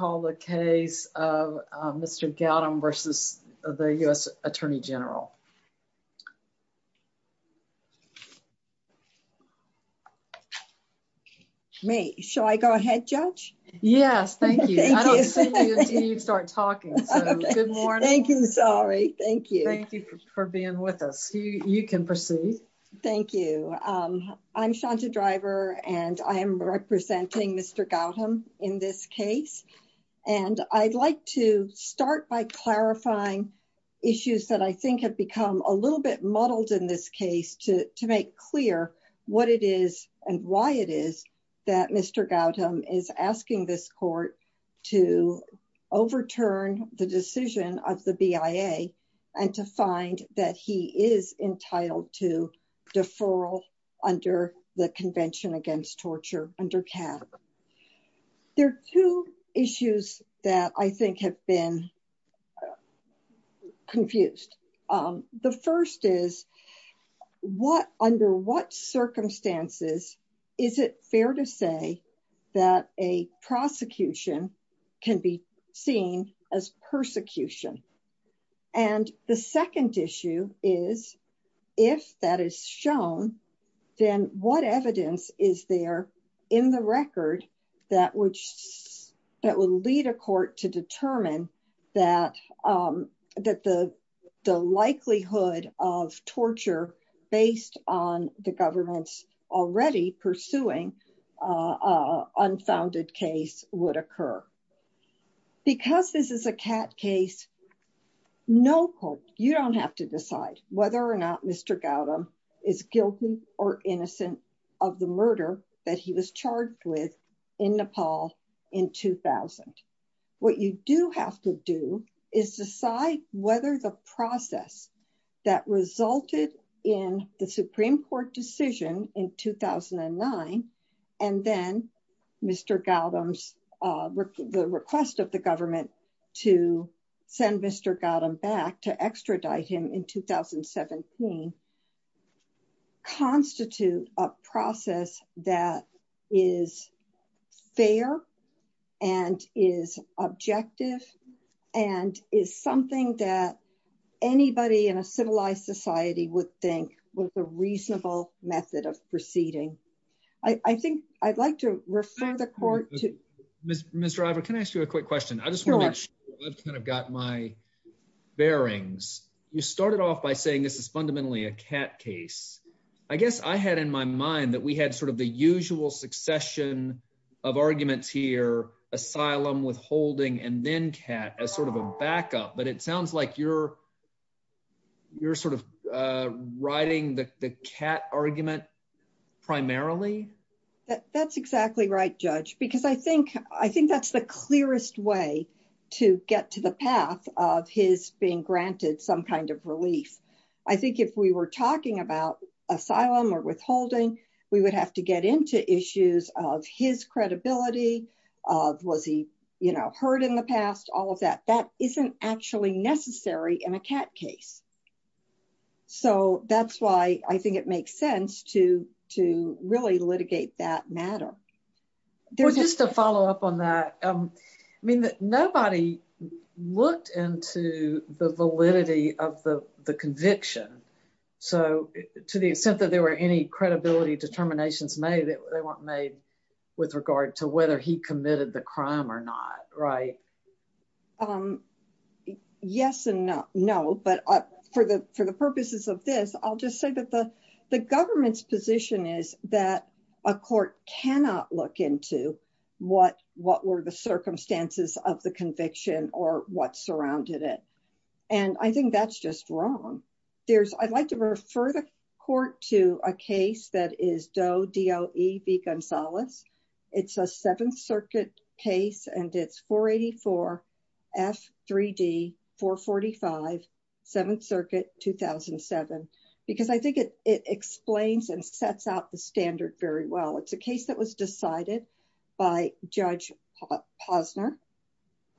May I call the case of Mr. Gautam v. the U.S. Attorney General May, shall I go ahead, Judge? Yes, thank you. I don't see you until you start talking, so good morning. Thank you, sorry. Thank you. Thank you for being with us. You can proceed. Thank you. I'm Shanta Driver, and I am representing Mr. Gautam in this case. And I'd like to start by clarifying issues that I think have become a little bit muddled in this case to make clear what it is and why it is that Mr. Gautam is asking this court to overturn the decision of the BIA and to find that he is entitled to deferral under the Convention Against Torture under CAP. There are two issues that I think have been confused. The first is, under what circumstances is it fair to say that a prosecution can be seen as persecution? And the second issue is, if that is shown, then what evidence is there in the record that would lead a court to determine that the likelihood of torture based on the government's already pursuing unfounded case would occur? Because this is a CAT case, no court, you don't have to decide whether or not Mr. Gautam is guilty or innocent of the murder that he was charged with in Nepal in 2000. What you do have to do is decide whether the process that resulted in the Supreme Court decision in 2009, and then Mr. Gautam's request of the government to send Mr. Gautam back to extradite him in 2017, constitute a process that is fair and is objective and is something that anybody in a civilized society would think was a reasonable method of proceeding. I think I'd like to refer the court to... Mr. Ivor, can I ask you a quick question? I just want to make sure I've kind of got my bearings. You started off by saying this is fundamentally a CAT case. I guess I had in my mind that we had sort of the usual succession of arguments here, asylum, withholding, and then CAT as sort of a backup, but it sounds like you're sort of riding the CAT argument primarily? That's exactly right, Judge, because I think that's the clearest way to get to the path of his being granted some kind of relief. I think if we were talking about asylum or withholding, we would have to get into issues of his credibility, was he hurt in the past, all of that. That isn't actually necessary in a CAT case. So that's why I think it makes sense to really litigate that matter. Just to follow up on that, I mean, nobody looked into the validity of the conviction. So to the extent that there were any credibility determinations made, they weren't made with regard to whether he committed the crime or not, right? Yes and no, but for the purposes of this, I'll just say that the government's position is that a court cannot look into what were the circumstances of the conviction or what surrounded it. And I think that's just wrong. I'd like to refer the court to a case that is Doe v. Gonzalez. It's a Seventh Circuit case, and it's 484 F3D 445, Seventh Circuit, 2007, because I think it explains and sets out the standard very well. It's a case that was decided by Judge Posner,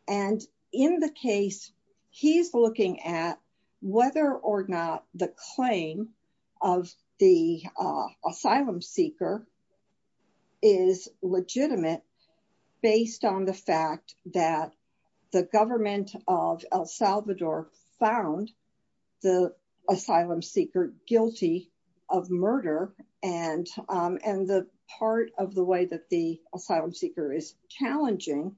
and in the case, he's looking at whether or not the claim of the asylum seeker is legitimate based on the fact that the government of El Salvador found the asylum seeker guilty of murder. And the part of the way that the asylum seeker is challenging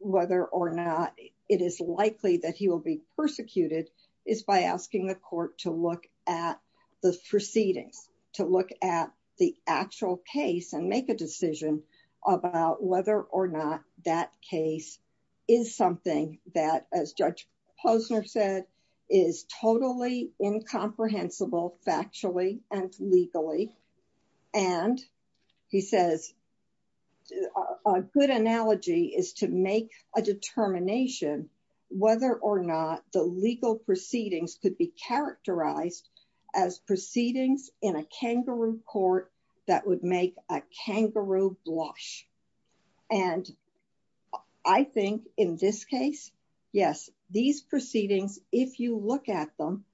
whether or not it is likely that he will be persecuted is by asking the court to look at the proceedings, to look at the actual case and make a decision about whether or not that case is something that, as Judge Posner said, is totally incomprehensible factually and legally, and he says a good analogy is to make a determination, whether or not the legal proceedings could be characterized as proceedings in a kangaroo court that would make a kangaroo blush. And I think in this case, yes, these proceedings, if you look at them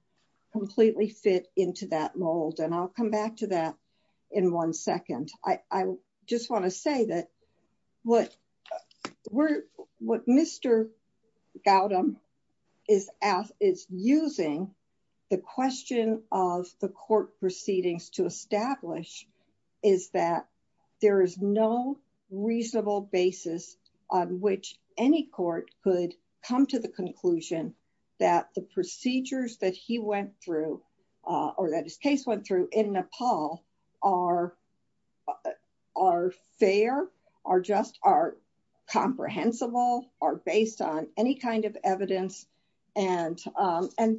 completely fit into that mold and I'll come back to that in one second. And I just want to say that what Mr. Gautam is using the question of the court proceedings to establish is that there is no reasonable basis on which any court could come to the conclusion that the procedures that he went through, or that his case went through in Nepal are fair, are just, are comprehensible, are based on any kind of evidence, and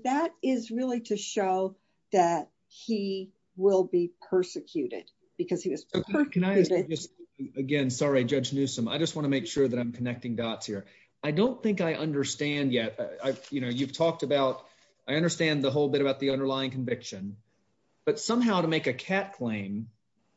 that is really to show that he will be persecuted, because he was persecuted. Can I just, again, sorry, Judge Newsome, I just want to make sure that I'm connecting dots here. I don't think I understand yet. I, you know, you've talked about, I understand the whole bit about the underlying conviction, but somehow to make a cat claim,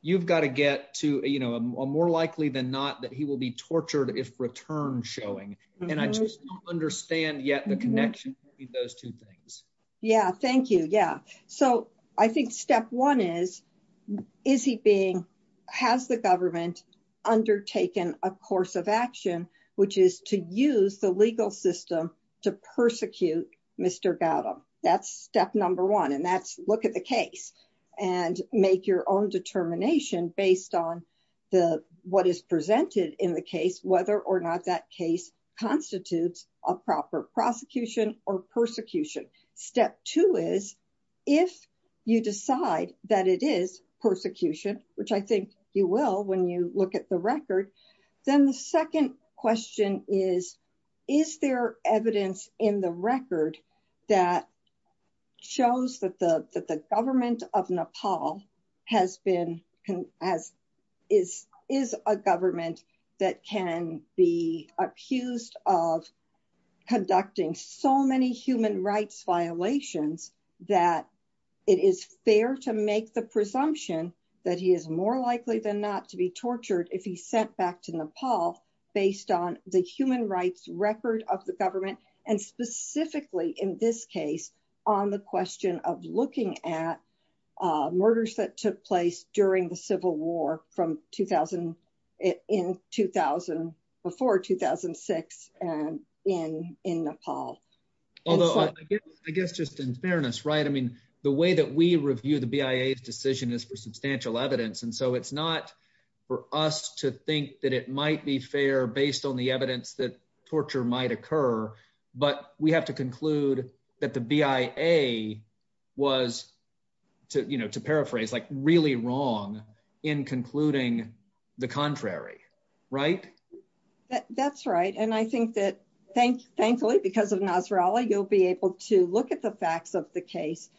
you've got to get to, you know, a more likely than not that he will be tortured if returned showing, and I just don't understand yet the connection between those two things. Yeah, thank you. Yeah. So, I think step one is, is he being, has the government undertaken a course of action, which is to use the legal system to persecute Mr. Gautam. That's step number one and that's look at the case and make your own determination based on the, what is presented in the case, whether or not that case constitutes a proper prosecution or persecution. Step two is, if you decide that it is persecution, which I think you will when you look at the record, then the second question is, is there evidence in the record that shows that the government of Nepal has been, is a government that can be accused of conducting so many human rights violations that it is fair to make the presumption that he is more likely than not to be tortured if he sent back to Nepal, based on the human rights record of the government, and specifically in this case, on the question of looking at Although I guess just in fairness, right, I mean, the way that we review the BIA decision is for substantial evidence and so it's not for us to think that it might be fair based on the evidence that torture might occur, but we have to conclude that the BIA was to, you know, to paraphrase like really wrong in concluding the contrary. Right. That's right. And I think that thankfully because of Nasrallah, you'll be able to look at the facts of the case.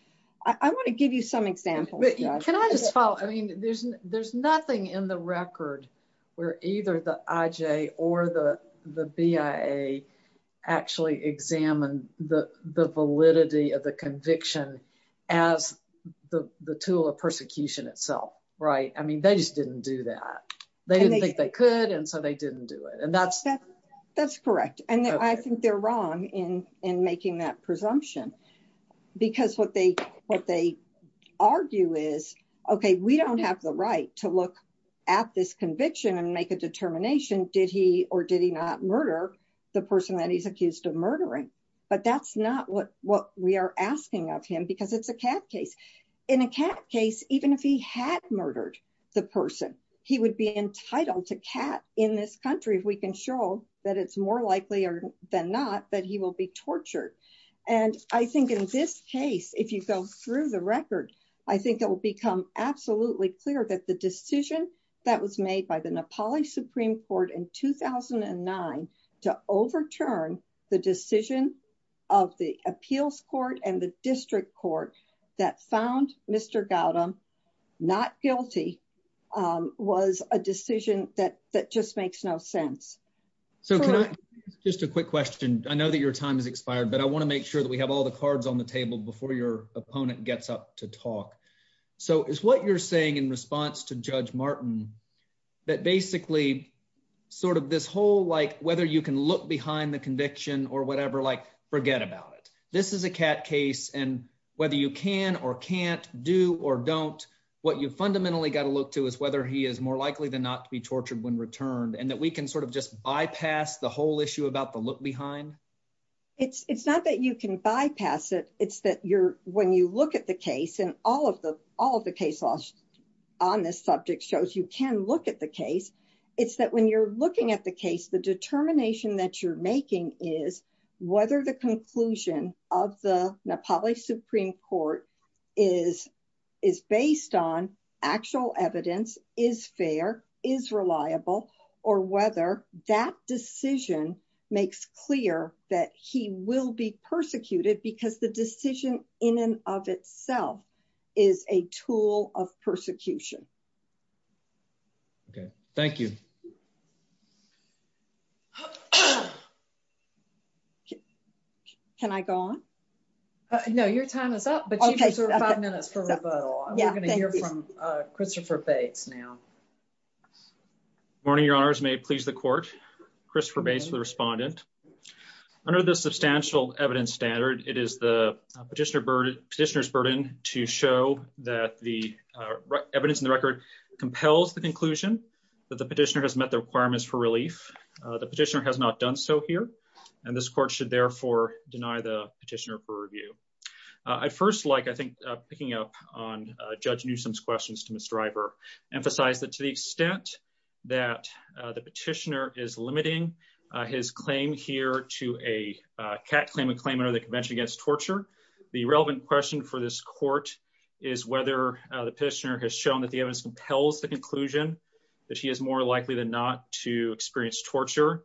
I want to give you some examples. Can I just follow? I mean, there's nothing in the record where either the IJ or the BIA actually examined the validity of the conviction as the tool of persecution itself. Right. I mean, they just didn't do that. They didn't think they could and so they didn't do it. And that's That's correct. And I think they're wrong in making that presumption. Because what they argue is, okay, we don't have the right to look at this conviction and make a determination. Did he or did he not murder the person that he's accused of murdering? But that's not what we are asking of him because it's a cat case. In a cat case, even if he had murdered the person, he would be entitled to cat in this country if we can show that it's more likely than not that he will be tortured. And I think in this case, if you go through the record, I think it will become absolutely clear that the decision that was made by the Nepali Supreme Court in 2009 to overturn the decision of the appeals court and the district court that found Mr. Gautam not guilty was a decision that just makes no sense. So just a quick question. I know that your time has expired, but I want to make sure that we have all the cards on the table before your opponent gets up to talk. So is what you're saying in response to Judge Martin that basically sort of this whole like whether you can look behind the conviction or whatever, like, forget about it. This is a cat case. And whether you can or can't do or don't, what you fundamentally got to look to is whether he is more likely than not to be tortured when returned and that we can sort of just bypass the whole issue about the look behind. It's not that you can bypass it. It's that you're when you look at the case and all of the all of the case laws on this subject shows you can look at the case. It's that when you're looking at the case the determination that you're making is whether the conclusion of the Nepali Supreme Court is is based on actual evidence is fair is reliable, or whether that decision makes clear that he will be persecuted because the decision in and of itself is a tool of persecution. Okay, thank you. Can I go on. No, your time is up but five minutes for Christopher Bates now. Morning, your honors may please the court. Christopher base the respondent. Under the substantial evidence standard, it is the petitioner bird petitioners burden to show that the evidence in the record compels the conclusion that the petitioner has met the requirements for relief. The petitioner has not done so here. And this court should therefore deny the petitioner for review. I first like I think picking up on Judge Newsome's questions to Mr driver emphasize that to the extent that the petitioner is limiting his claim here to a cat claim a claim or the Convention against torture. The relevant question for this court is whether the petitioner has shown that the evidence compels the conclusion that he is more likely than not to experience torture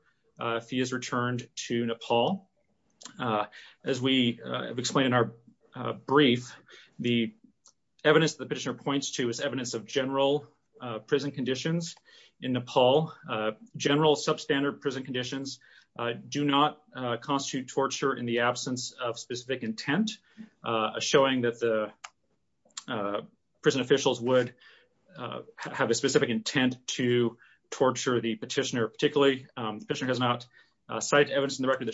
fee is returned to Nepal. As we have explained in our brief, the evidence that the petitioner points to is evidence of general prison conditions in Nepal, general substandard prison conditions, do not constitute torture in the absence of specific intent, showing that the prison evidence in the record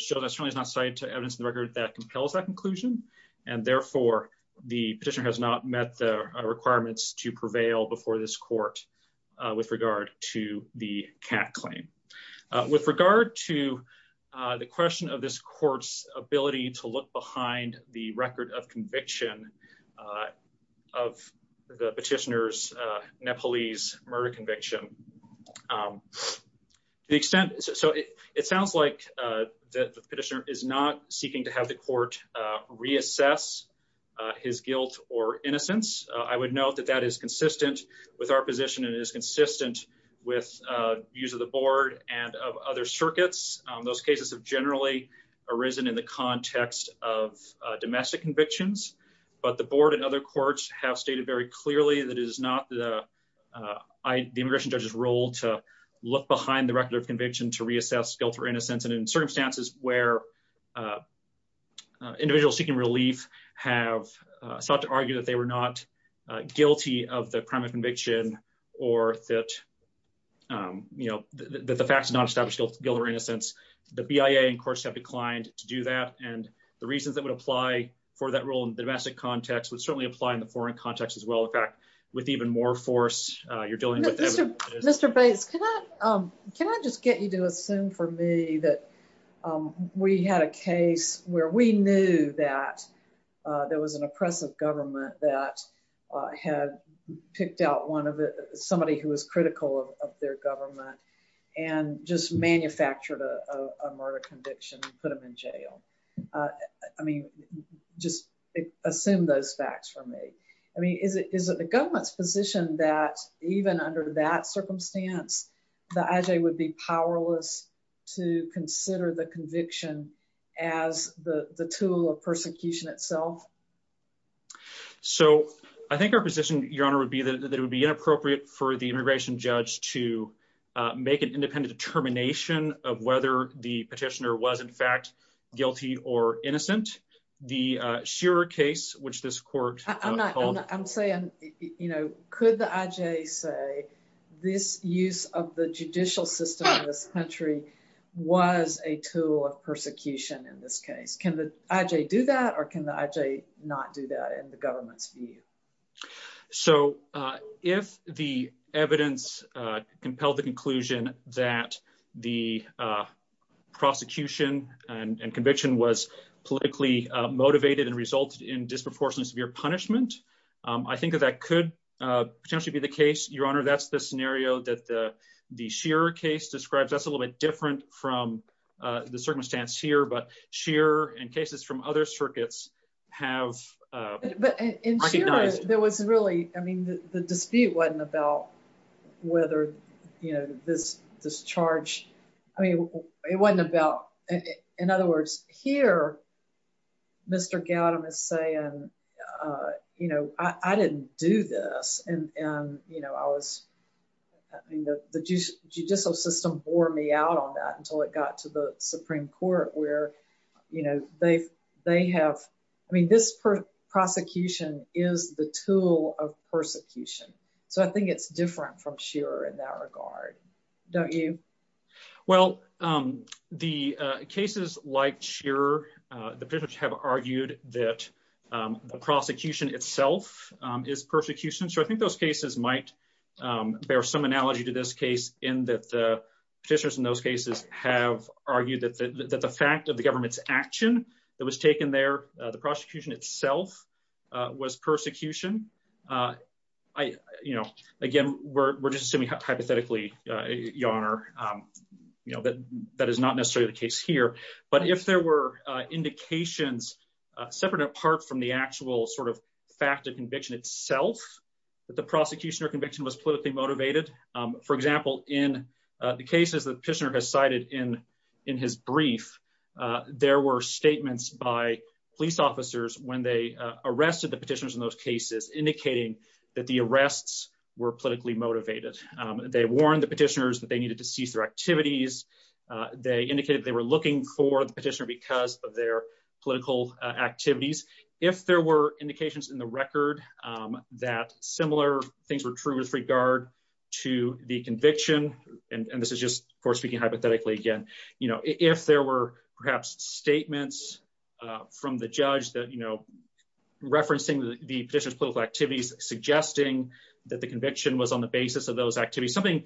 that compels that conclusion. And therefore, the petitioner has not met the requirements to prevail before this court with regard to the cat claim. With regard to the question of this court's ability to look behind the record of conviction of the petitioners Nepalese murder conviction. The extent. So it sounds like the petitioner is not seeking to have the court reassess his guilt or innocence, I would note that that is consistent with our position and is consistent with use of the board and other circuits. Those cases have generally arisen in the context of domestic convictions, but the board and other courts have stated very clearly that is not the ID immigration judges role to look behind the record of conviction to reassess guilt or innocence and in circumstances where individuals seeking relief have sought to argue that they were not guilty of the crime of conviction, or that, you know, the facts not established guilt or innocence, the BIA and courts have declined to do that, and the reasons that would apply for that role in the domestic context would certainly apply in the foreign context as well. In fact, with even more force, you're dealing with Mr. Bates. Can I just get you to assume for me that we had a case where we knew that there was an oppressive government that had picked out one of somebody who was critical of their government and just manufactured a murder conviction, put them in jail. I mean, just assume those facts for me. I mean, is it the government's position that even under that circumstance, the IJ would be powerless to consider the conviction as the tool of persecution itself? So, I think our position, Your Honor, would be that it would be inappropriate for the immigration judge to make an independent determination of whether the petitioner was in fact guilty or innocent. The Shearer case, which this court... I'm saying, you know, could the IJ say this use of the judicial system in this country was a tool of persecution in this case? Can the IJ do that or can the IJ not do that in the government's view? So, if the evidence compelled the conclusion that the prosecution and conviction was politically motivated and resulted in disproportionate severe punishment, I think that that could potentially be the case, Your Honor. That's the scenario that the Shearer case describes. That's a little bit different from the circumstance here, but Shearer and cases from other circuits have recognized... I mean, the dispute wasn't about whether, you know, this charge... I mean, it wasn't about... In other words, here, Mr. Gautam is saying, you know, I didn't do this. And, you know, I was... I mean, the judicial system bore me out on that until it got to the Supreme Court where, you know, they have... I mean, this prosecution is the tool of persecution. So, I think it's different from Shearer in that regard. Don't you? Well, the cases like Shearer, the petitioners have argued that the prosecution itself is persecution. So, I think those cases might bear some analogy to this case in that the petitioners in those cases have argued that the fact of the government's action that was taken there, the prosecution itself, was persecution. I, you know, again, we're just assuming hypothetically, Your Honor, you know, that that is not necessarily the case here. But if there were indications separate apart from the actual sort of fact of conviction itself, that the prosecution or conviction was politically motivated. For example, in the cases that Pitchner has cited in his brief, there were statements by police officers when they arrested the petitioners in those cases, indicating that the arrests were politically motivated. They warned the petitioners that they needed to cease their activities. They indicated they were looking for the petitioner because of their political activities. If there were indications in the record that similar things were true with regard to the conviction, and this is just, of course, speaking hypothetically again, you know, if there were perhaps statements from the judge that, you know, referencing the petitioners' political activities, suggesting that the conviction was on the basis of those activities, something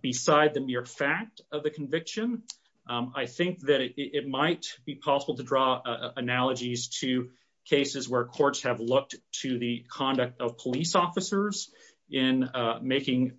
beside the mere fact of the conviction, I think that it might be possible to draw analogies to cases where courts have looked to the conduct of police officers in making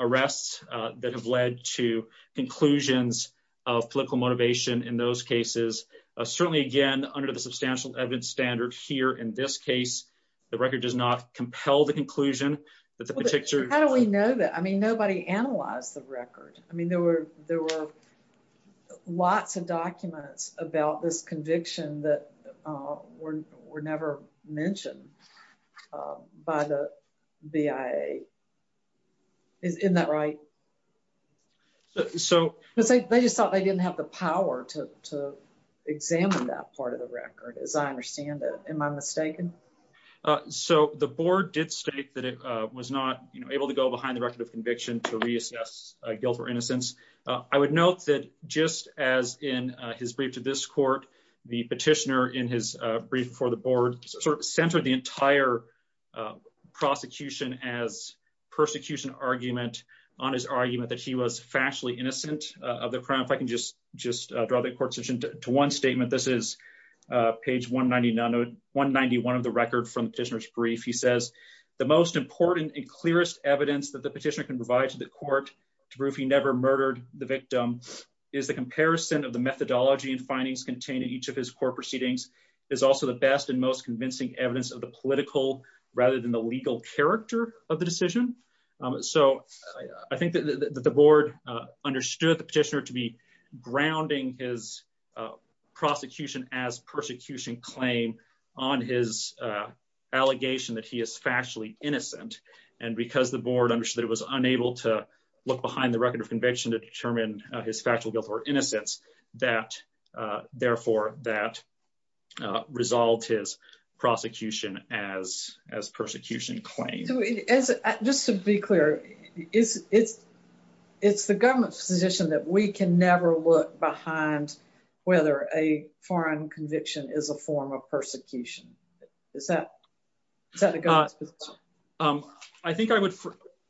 arrests that have led to conclusions of political motivation in those cases. Certainly, again, under the substantial evidence standard here in this case, the record does not compel the conclusion that the petitioner How do we know that? I mean, nobody analyzed the record. I mean, there were lots of documents about this conviction that were never mentioned by the BIA. Isn't that right? They just thought they didn't have the power to examine that part of the record, as I understand it. Am I mistaken? So the board did state that it was not able to go behind the record of conviction to reassess guilt or innocence. I would note that just as in his brief to this court, the petitioner in his brief for the board sort of centered the entire prosecution as persecution argument on his argument that he was factually innocent of the crime. If I can just draw the court's attention to one statement. This is page 191 of the record from the petitioner's brief. He says, the most important and clearest evidence that the petitioner can provide to the court to prove he never murdered the victim is the comparison of the methodology and findings contained in each of his court proceedings is also the best and most convincing evidence of the political rather than the legal character of the decision. So I think that the board understood the petitioner to be grounding his prosecution as persecution claim on his allegation that he is factually innocent. And because the board understood that it was unable to look behind the record of conviction to determine his factual guilt or innocence that therefore that result is prosecution as as persecution claim. Just to be clear, it's, it's, it's the government's position that we can never look behind whether a foreign conviction is a form of persecution. Is that. I think I would,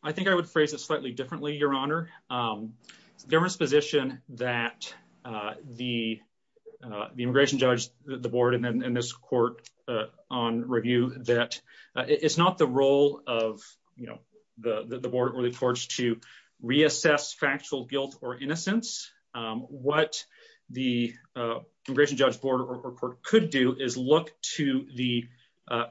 I think I would phrase it slightly differently, Your Honor. There was position that the, the immigration judge, the board and then this court on review that it's not the role of, you know, the, the board really forced to reassess factual guilt or innocence. What the immigration judge board or court could do is look to the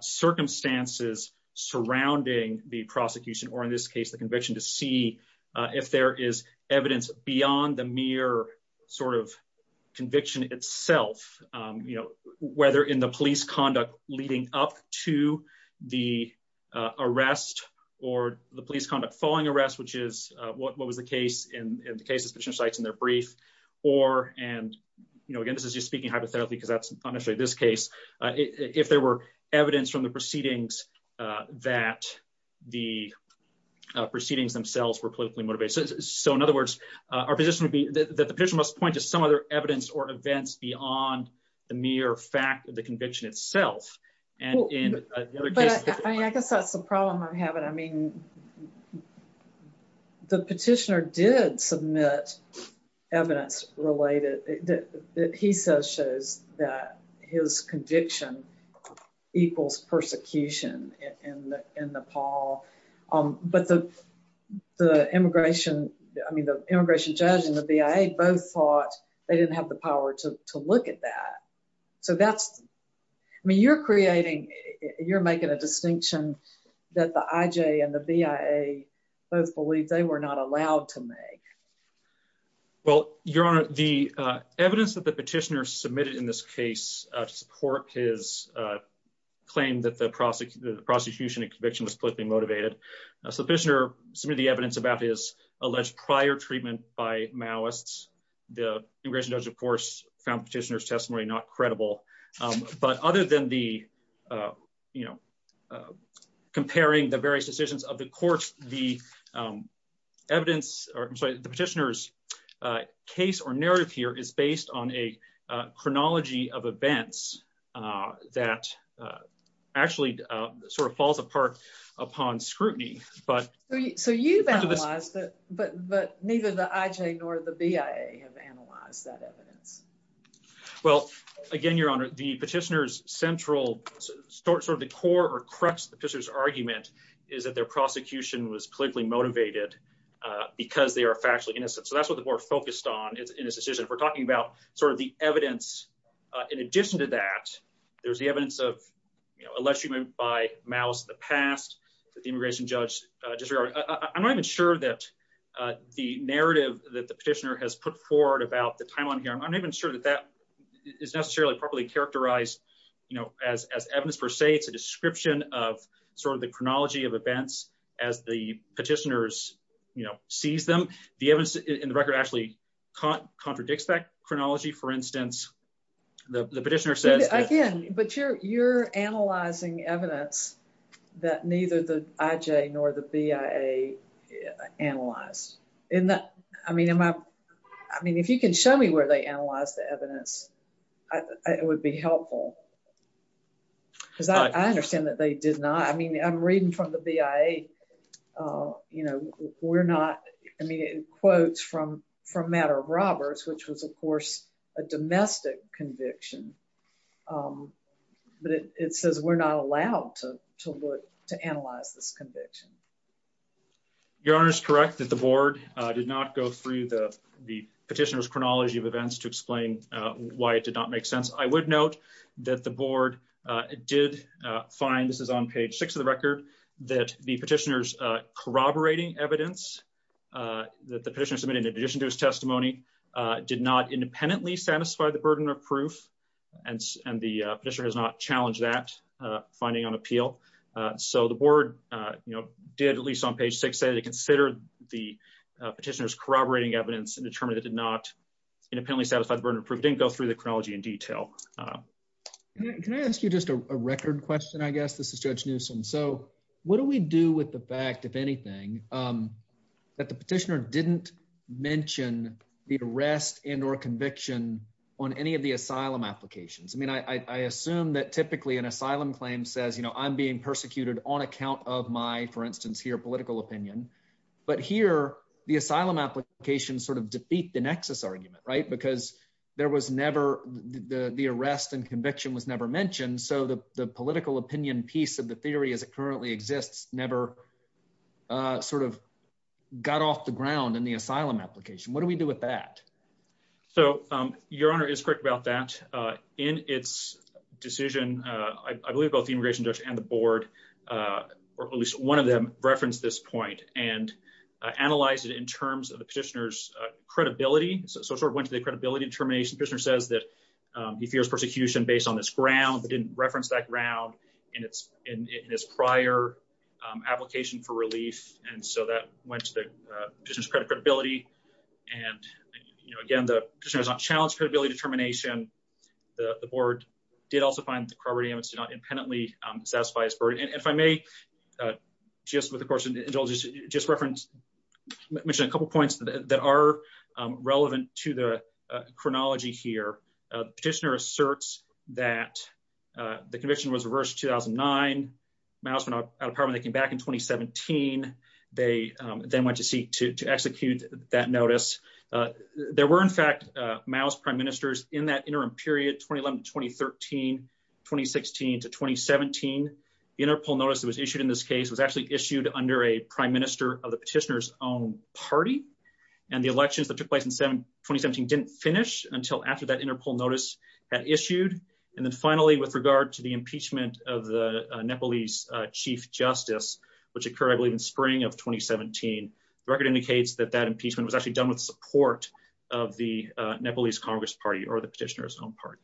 circumstances surrounding the prosecution or in this case the conviction to see if there is evidence beyond the mere sort of conviction itself. You know, whether in the police conduct, leading up to the arrest, or the police conduct following arrest which is what was the case in the case of sites in their brief, or, and, you know, again this is just speaking hypothetically because that's if there were evidence from the proceedings that the proceedings themselves were politically motivated. So in other words, our position would be that the person must point to some other evidence or events beyond the mere fact of the conviction itself. I guess that's the problem I'm having. I mean, the petitioner did submit evidence related that he says shows that his conviction equals persecution in Nepal. But the immigration, I mean the immigration judge and the BIA both thought they didn't have the power to look at that. So that's, I mean you're creating, you're making a distinction that the IJ and the BIA both believe they were not allowed to make. Well, Your Honor, the evidence that the petitioner submitted in this case to support his claim that the prosecution and conviction was politically motivated. So the petitioner submitted the evidence about his alleged prior treatment by Maoists. The immigration judge of course found petitioner's testimony not credible. But other than the, you know, comparing the various decisions of the courts, the evidence, or I'm sorry, the petitioner's case or narrative here is based on a chronology of events that actually sort of falls apart upon scrutiny, but... So you've analyzed it, but neither the IJ nor the BIA have analyzed that evidence. Well, again, Your Honor, the petitioner's central, sort of the core or crux of the petitioner's argument is that their prosecution was politically motivated because they are factually innocent. So that's what the board focused on in this decision. We're talking about sort of the evidence. In addition to that, there's the evidence of alleged treatment by Maoists in the past that the immigration judge... I'm sorry, I'm not even sure that the narrative that the petitioner has put forward about the timeline here, I'm not even sure that that is necessarily properly characterized, you know, as evidence per se. It's a description of sort of the chronology of events as the petitioners, you know, seize them. The evidence in the record actually contradicts that chronology. For instance, the petitioner says... But you're analyzing evidence that neither the IJ nor the BIA analyzed. I mean, if you can show me where they analyzed the evidence, it would be helpful. Because I understand that they did not. I mean, I'm reading from the BIA, you know, we're not... I mean, it quotes from from matter of robbers, which was, of course, a domestic conviction. But it says we're not allowed to look to analyze this conviction. Your Honor is correct that the board did not go through the petitioner's chronology of events to explain why it did not make sense. I would note that the board did find, this is on page six of the record, that the petitioner's corroborating evidence that the petitioner submitted in addition to his testimony did not independently satisfy the burden of proof. And the petitioner has not challenged that finding on appeal. So the board, you know, did at least on page six say they considered the petitioner's corroborating evidence and determined it did not independently satisfy the burden of proof, didn't go through the chronology in detail. Can I ask you just a record question, I guess? This is Judge Newsom. So what do we do with the fact, if anything, that the petitioner didn't mention the arrest and or conviction on any of the asylum applications? I mean, I assume that typically an asylum claim says, you know, I'm being persecuted on account of my, for instance, here, political opinion. But here, the asylum application sort of defeat the nexus argument, right? Because there was never, the arrest and conviction was never mentioned. So the political opinion piece of the theory as it currently exists never sort of got off the ground in the asylum application. What do we do with that? So, Your Honor is correct about that. In its decision, I believe both the immigration judge and the board, or at least one of them referenced this point and analyzed it in terms of the petitioner's credibility. So it sort of went to the credibility determination. The petitioner says that he fears persecution based on this ground, but didn't reference that ground in his prior application for relief. And so that went to the petitioner's credibility. And, you know, again, the petitioner has not challenged credibility determination. The board did also find that the credibility evidence did not impenetrably satisfy his burden. And if I may, just with, of course, just reference, mention a couple points that are relevant to the chronology here. Petitioner asserts that the conviction was reversed in 2009. Maos went out of power when they came back in 2017. They then went to seek to execute that notice. There were, in fact, Maos prime ministers in that interim period 2011-2013, 2016-2017. Interpol notice that was issued in this case was actually issued under a prime minister of the petitioner's own party. And the elections that took place in 2017 didn't finish until after that Interpol notice had issued. And then finally, with regard to the impeachment of the Nepalese chief justice, which occurred, I believe, in spring of 2017. The record indicates that that impeachment was actually done with support of the Nepalese Congress party or the petitioner's own party.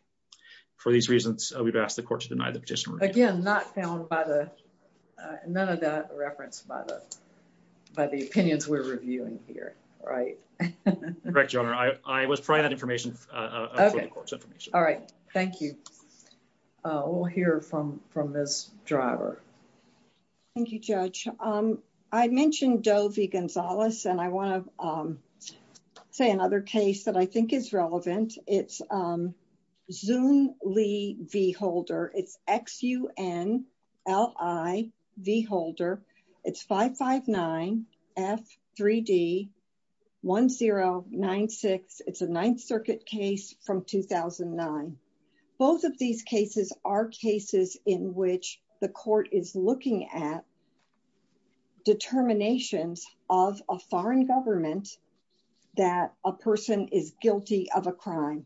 For these reasons, we've asked the court to deny the petitioner. Again, not found by the, none of that referenced by the, by the opinions we're reviewing here. Right. Correct, Your Honor. I was providing that information. All right. Thank you. We'll hear from from Ms. Driver. Thank you, Judge. I mentioned Doe v. Gonzalez and I want to say another case that I think is relevant. It's Zun Li v. Holder. It's X-U-N-L-I v. Holder. It's 559-F-3-D-1096. It's a Ninth Circuit case from 2009. Both of these cases are cases in which the court is looking at determinations of a foreign government that a person is guilty of a crime.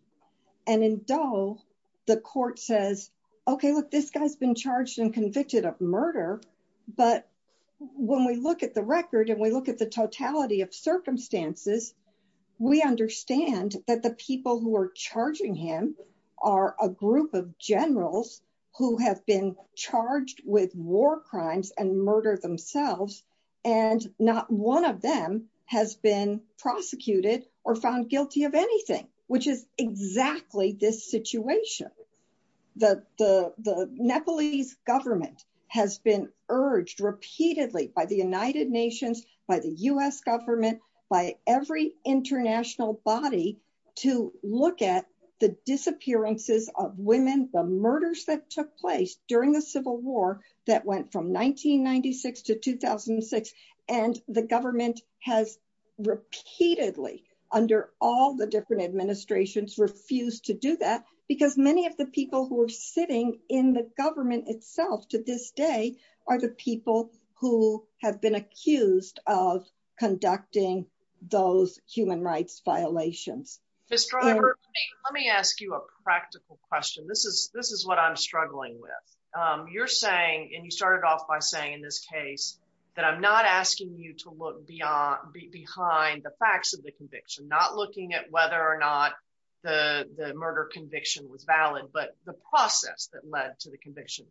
And in Doe, the court says, okay, look, this guy's been charged and convicted of murder. But when we look at the record and we look at the totality of circumstances, we understand that the people who are charging him are a group of generals who have been charged with war crimes and murder themselves. And not one of them has been prosecuted or found guilty of anything, which is exactly this situation. The Nepalese government has been urged repeatedly by the United Nations, by the U.S. government, by every international body to look at the disappearances of women, the murders that took place during the Civil War that went from 1996 to 2006. And the government has repeatedly, under all the different administrations, refused to do that because many of the people who are sitting in the government itself to this day are the people who have been accused of conducting those human rights violations. Ms. Driver, let me ask you a practical question. This is what I'm struggling with. You're saying, and you started off by saying in this case, that I'm not asking you to look behind the facts of the conviction, not looking at whether or not the murder conviction was valid, but the process that led to the conviction.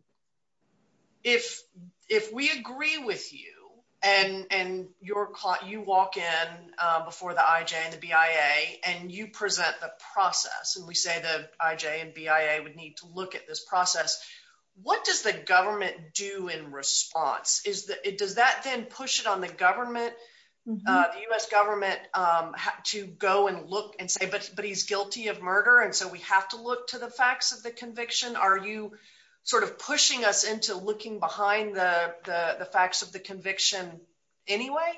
If we agree with you and you walk in before the IJ and the BIA and you present the process, and we say the IJ and BIA would need to look at this process, what does the government do in response? Does that then push it on the government, the U.S. government, to go and look and say, but he's guilty of murder and so we have to look to the facts of the conviction? Are you sort of pushing us into looking behind the facts of the conviction anyway?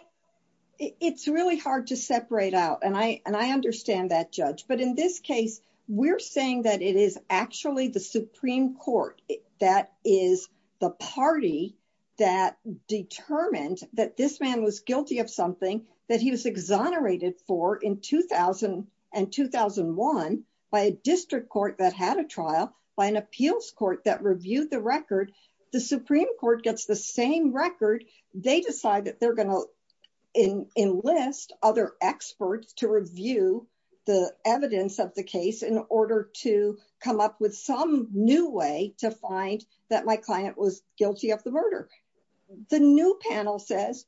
It's really hard to separate out, and I understand that, Judge. But in this case, we're saying that it is actually the Supreme Court that is the party that determined that this man was guilty of something that he was exonerated for in 2000 and 2001 by a district court that had a trial, by an appeals court that reviewed the record. The Supreme Court gets the same record. They decide that they're going to enlist other experts to review the evidence of the case in order to come up with some new way to find that my client was guilty of the murder. The new panel says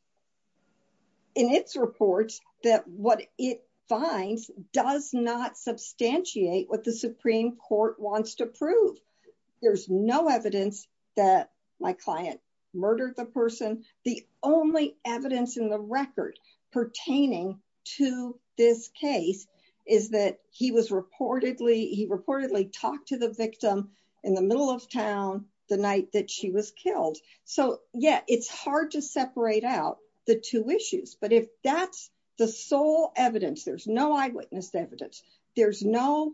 in its reports that what it finds does not substantiate what the Supreme Court wants to prove. There's no evidence that my client murdered the person. The only evidence in the record pertaining to this case is that he was reportedly, he reportedly talked to the victim in the middle of town the night that she was killed. So, yeah, it's hard to separate out the two issues. But if that's the sole evidence, there's no eyewitness evidence, there's no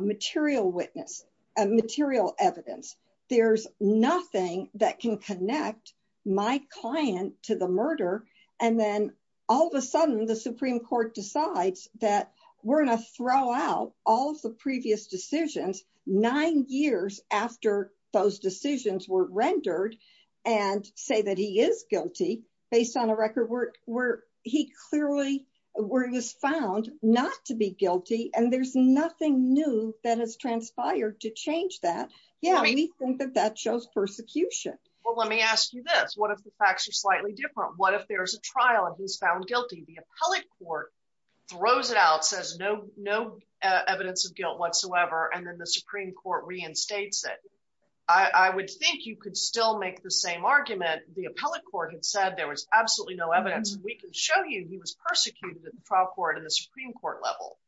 material witness, material evidence, there's nothing that can connect my client to the murder. And then all of a sudden the Supreme Court decides that we're going to throw out all of the previous decisions, nine years after those decisions were rendered and say that he is guilty, based on a record where he clearly was found not to be guilty and there's nothing new that has transpired to change that. Yeah, we think that that shows persecution. Well, let me ask you this. What if the facts are slightly different? What if there's a trial and he's found guilty? The appellate court throws it out, says no evidence of guilt whatsoever, and then the Supreme Court reinstates it. I would think you could still make the same argument. The appellate court had said there was absolutely no evidence. We can show you he was persecuted at the trial court and the Supreme Court level.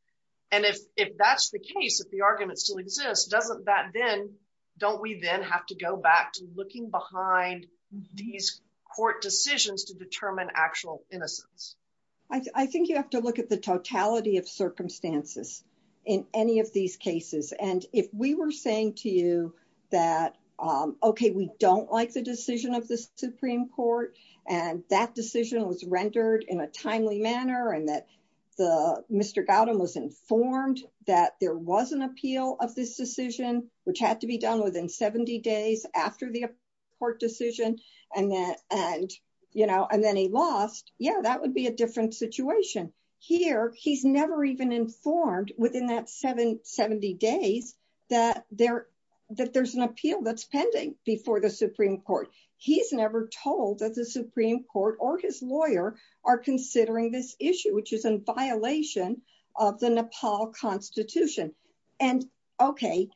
And if that's the case, if the argument still exists, doesn't that then, don't we then have to go back to looking behind these court decisions to determine actual innocence? I think you have to look at the totality of circumstances in any of these cases. And if we were saying to you that, okay, we don't like the decision of the Supreme Court, and that decision was rendered in a timely manner and that Mr. Gautam was informed that there was an appeal of this decision, which had to be done within 70 days after the court decision. And then he lost, yeah, that would be a different situation. Here, he's never even informed within that 70 days that there's an appeal that's pending before the Supreme Court. He's never told that the Supreme Court or his lawyer are considering this issue, which is in violation of the Nepal Constitution. And, okay,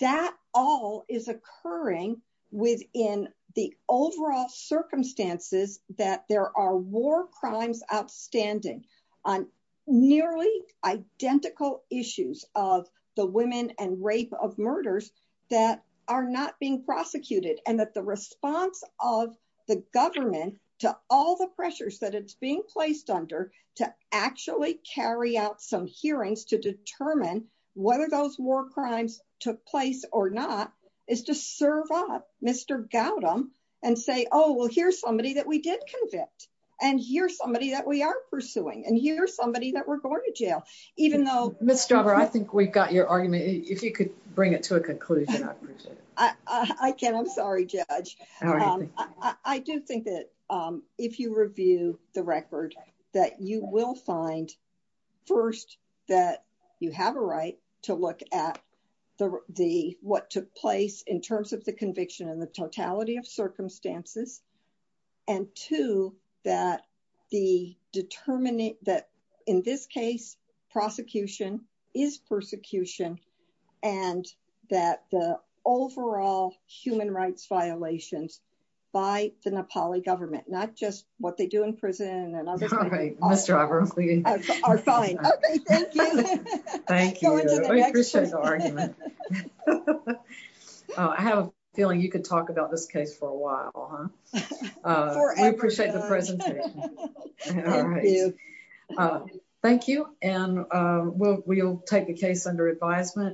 that all is occurring within the overall circumstances that there are war crimes outstanding on nearly identical issues of the women and rape of murders that are not being prosecuted and that the response of the government to all the pressures that it's being placed under to actually carry out some hearings to determine whether those war crimes took place or not, is to serve up Mr. Gautam and say, oh, well, here's somebody that we did convict, and here's somebody that we are pursuing, and here's somebody that we're going to jail, even though- Ms. Strauber, I think we've got your argument. If you could bring it to a conclusion, I'd appreciate it. I can. I'm sorry, Judge. I do think that if you review the record, that you will find, first, that you have a right to look at what took place in terms of the conviction and the totality of circumstances. And, two, that in this case, prosecution is persecution, and that the overall human rights violations by the Nepali government, not just what they do in prison and other things- Okay, Ms. Strauber, we- Are fine. Okay, thank you. Thank you. Going to the next one. I appreciate the argument. I have a feeling you could talk about this case for a while, huh? Forever. We appreciate the presentation. Thank you. All right. Thank you, and we'll take the case under advisement.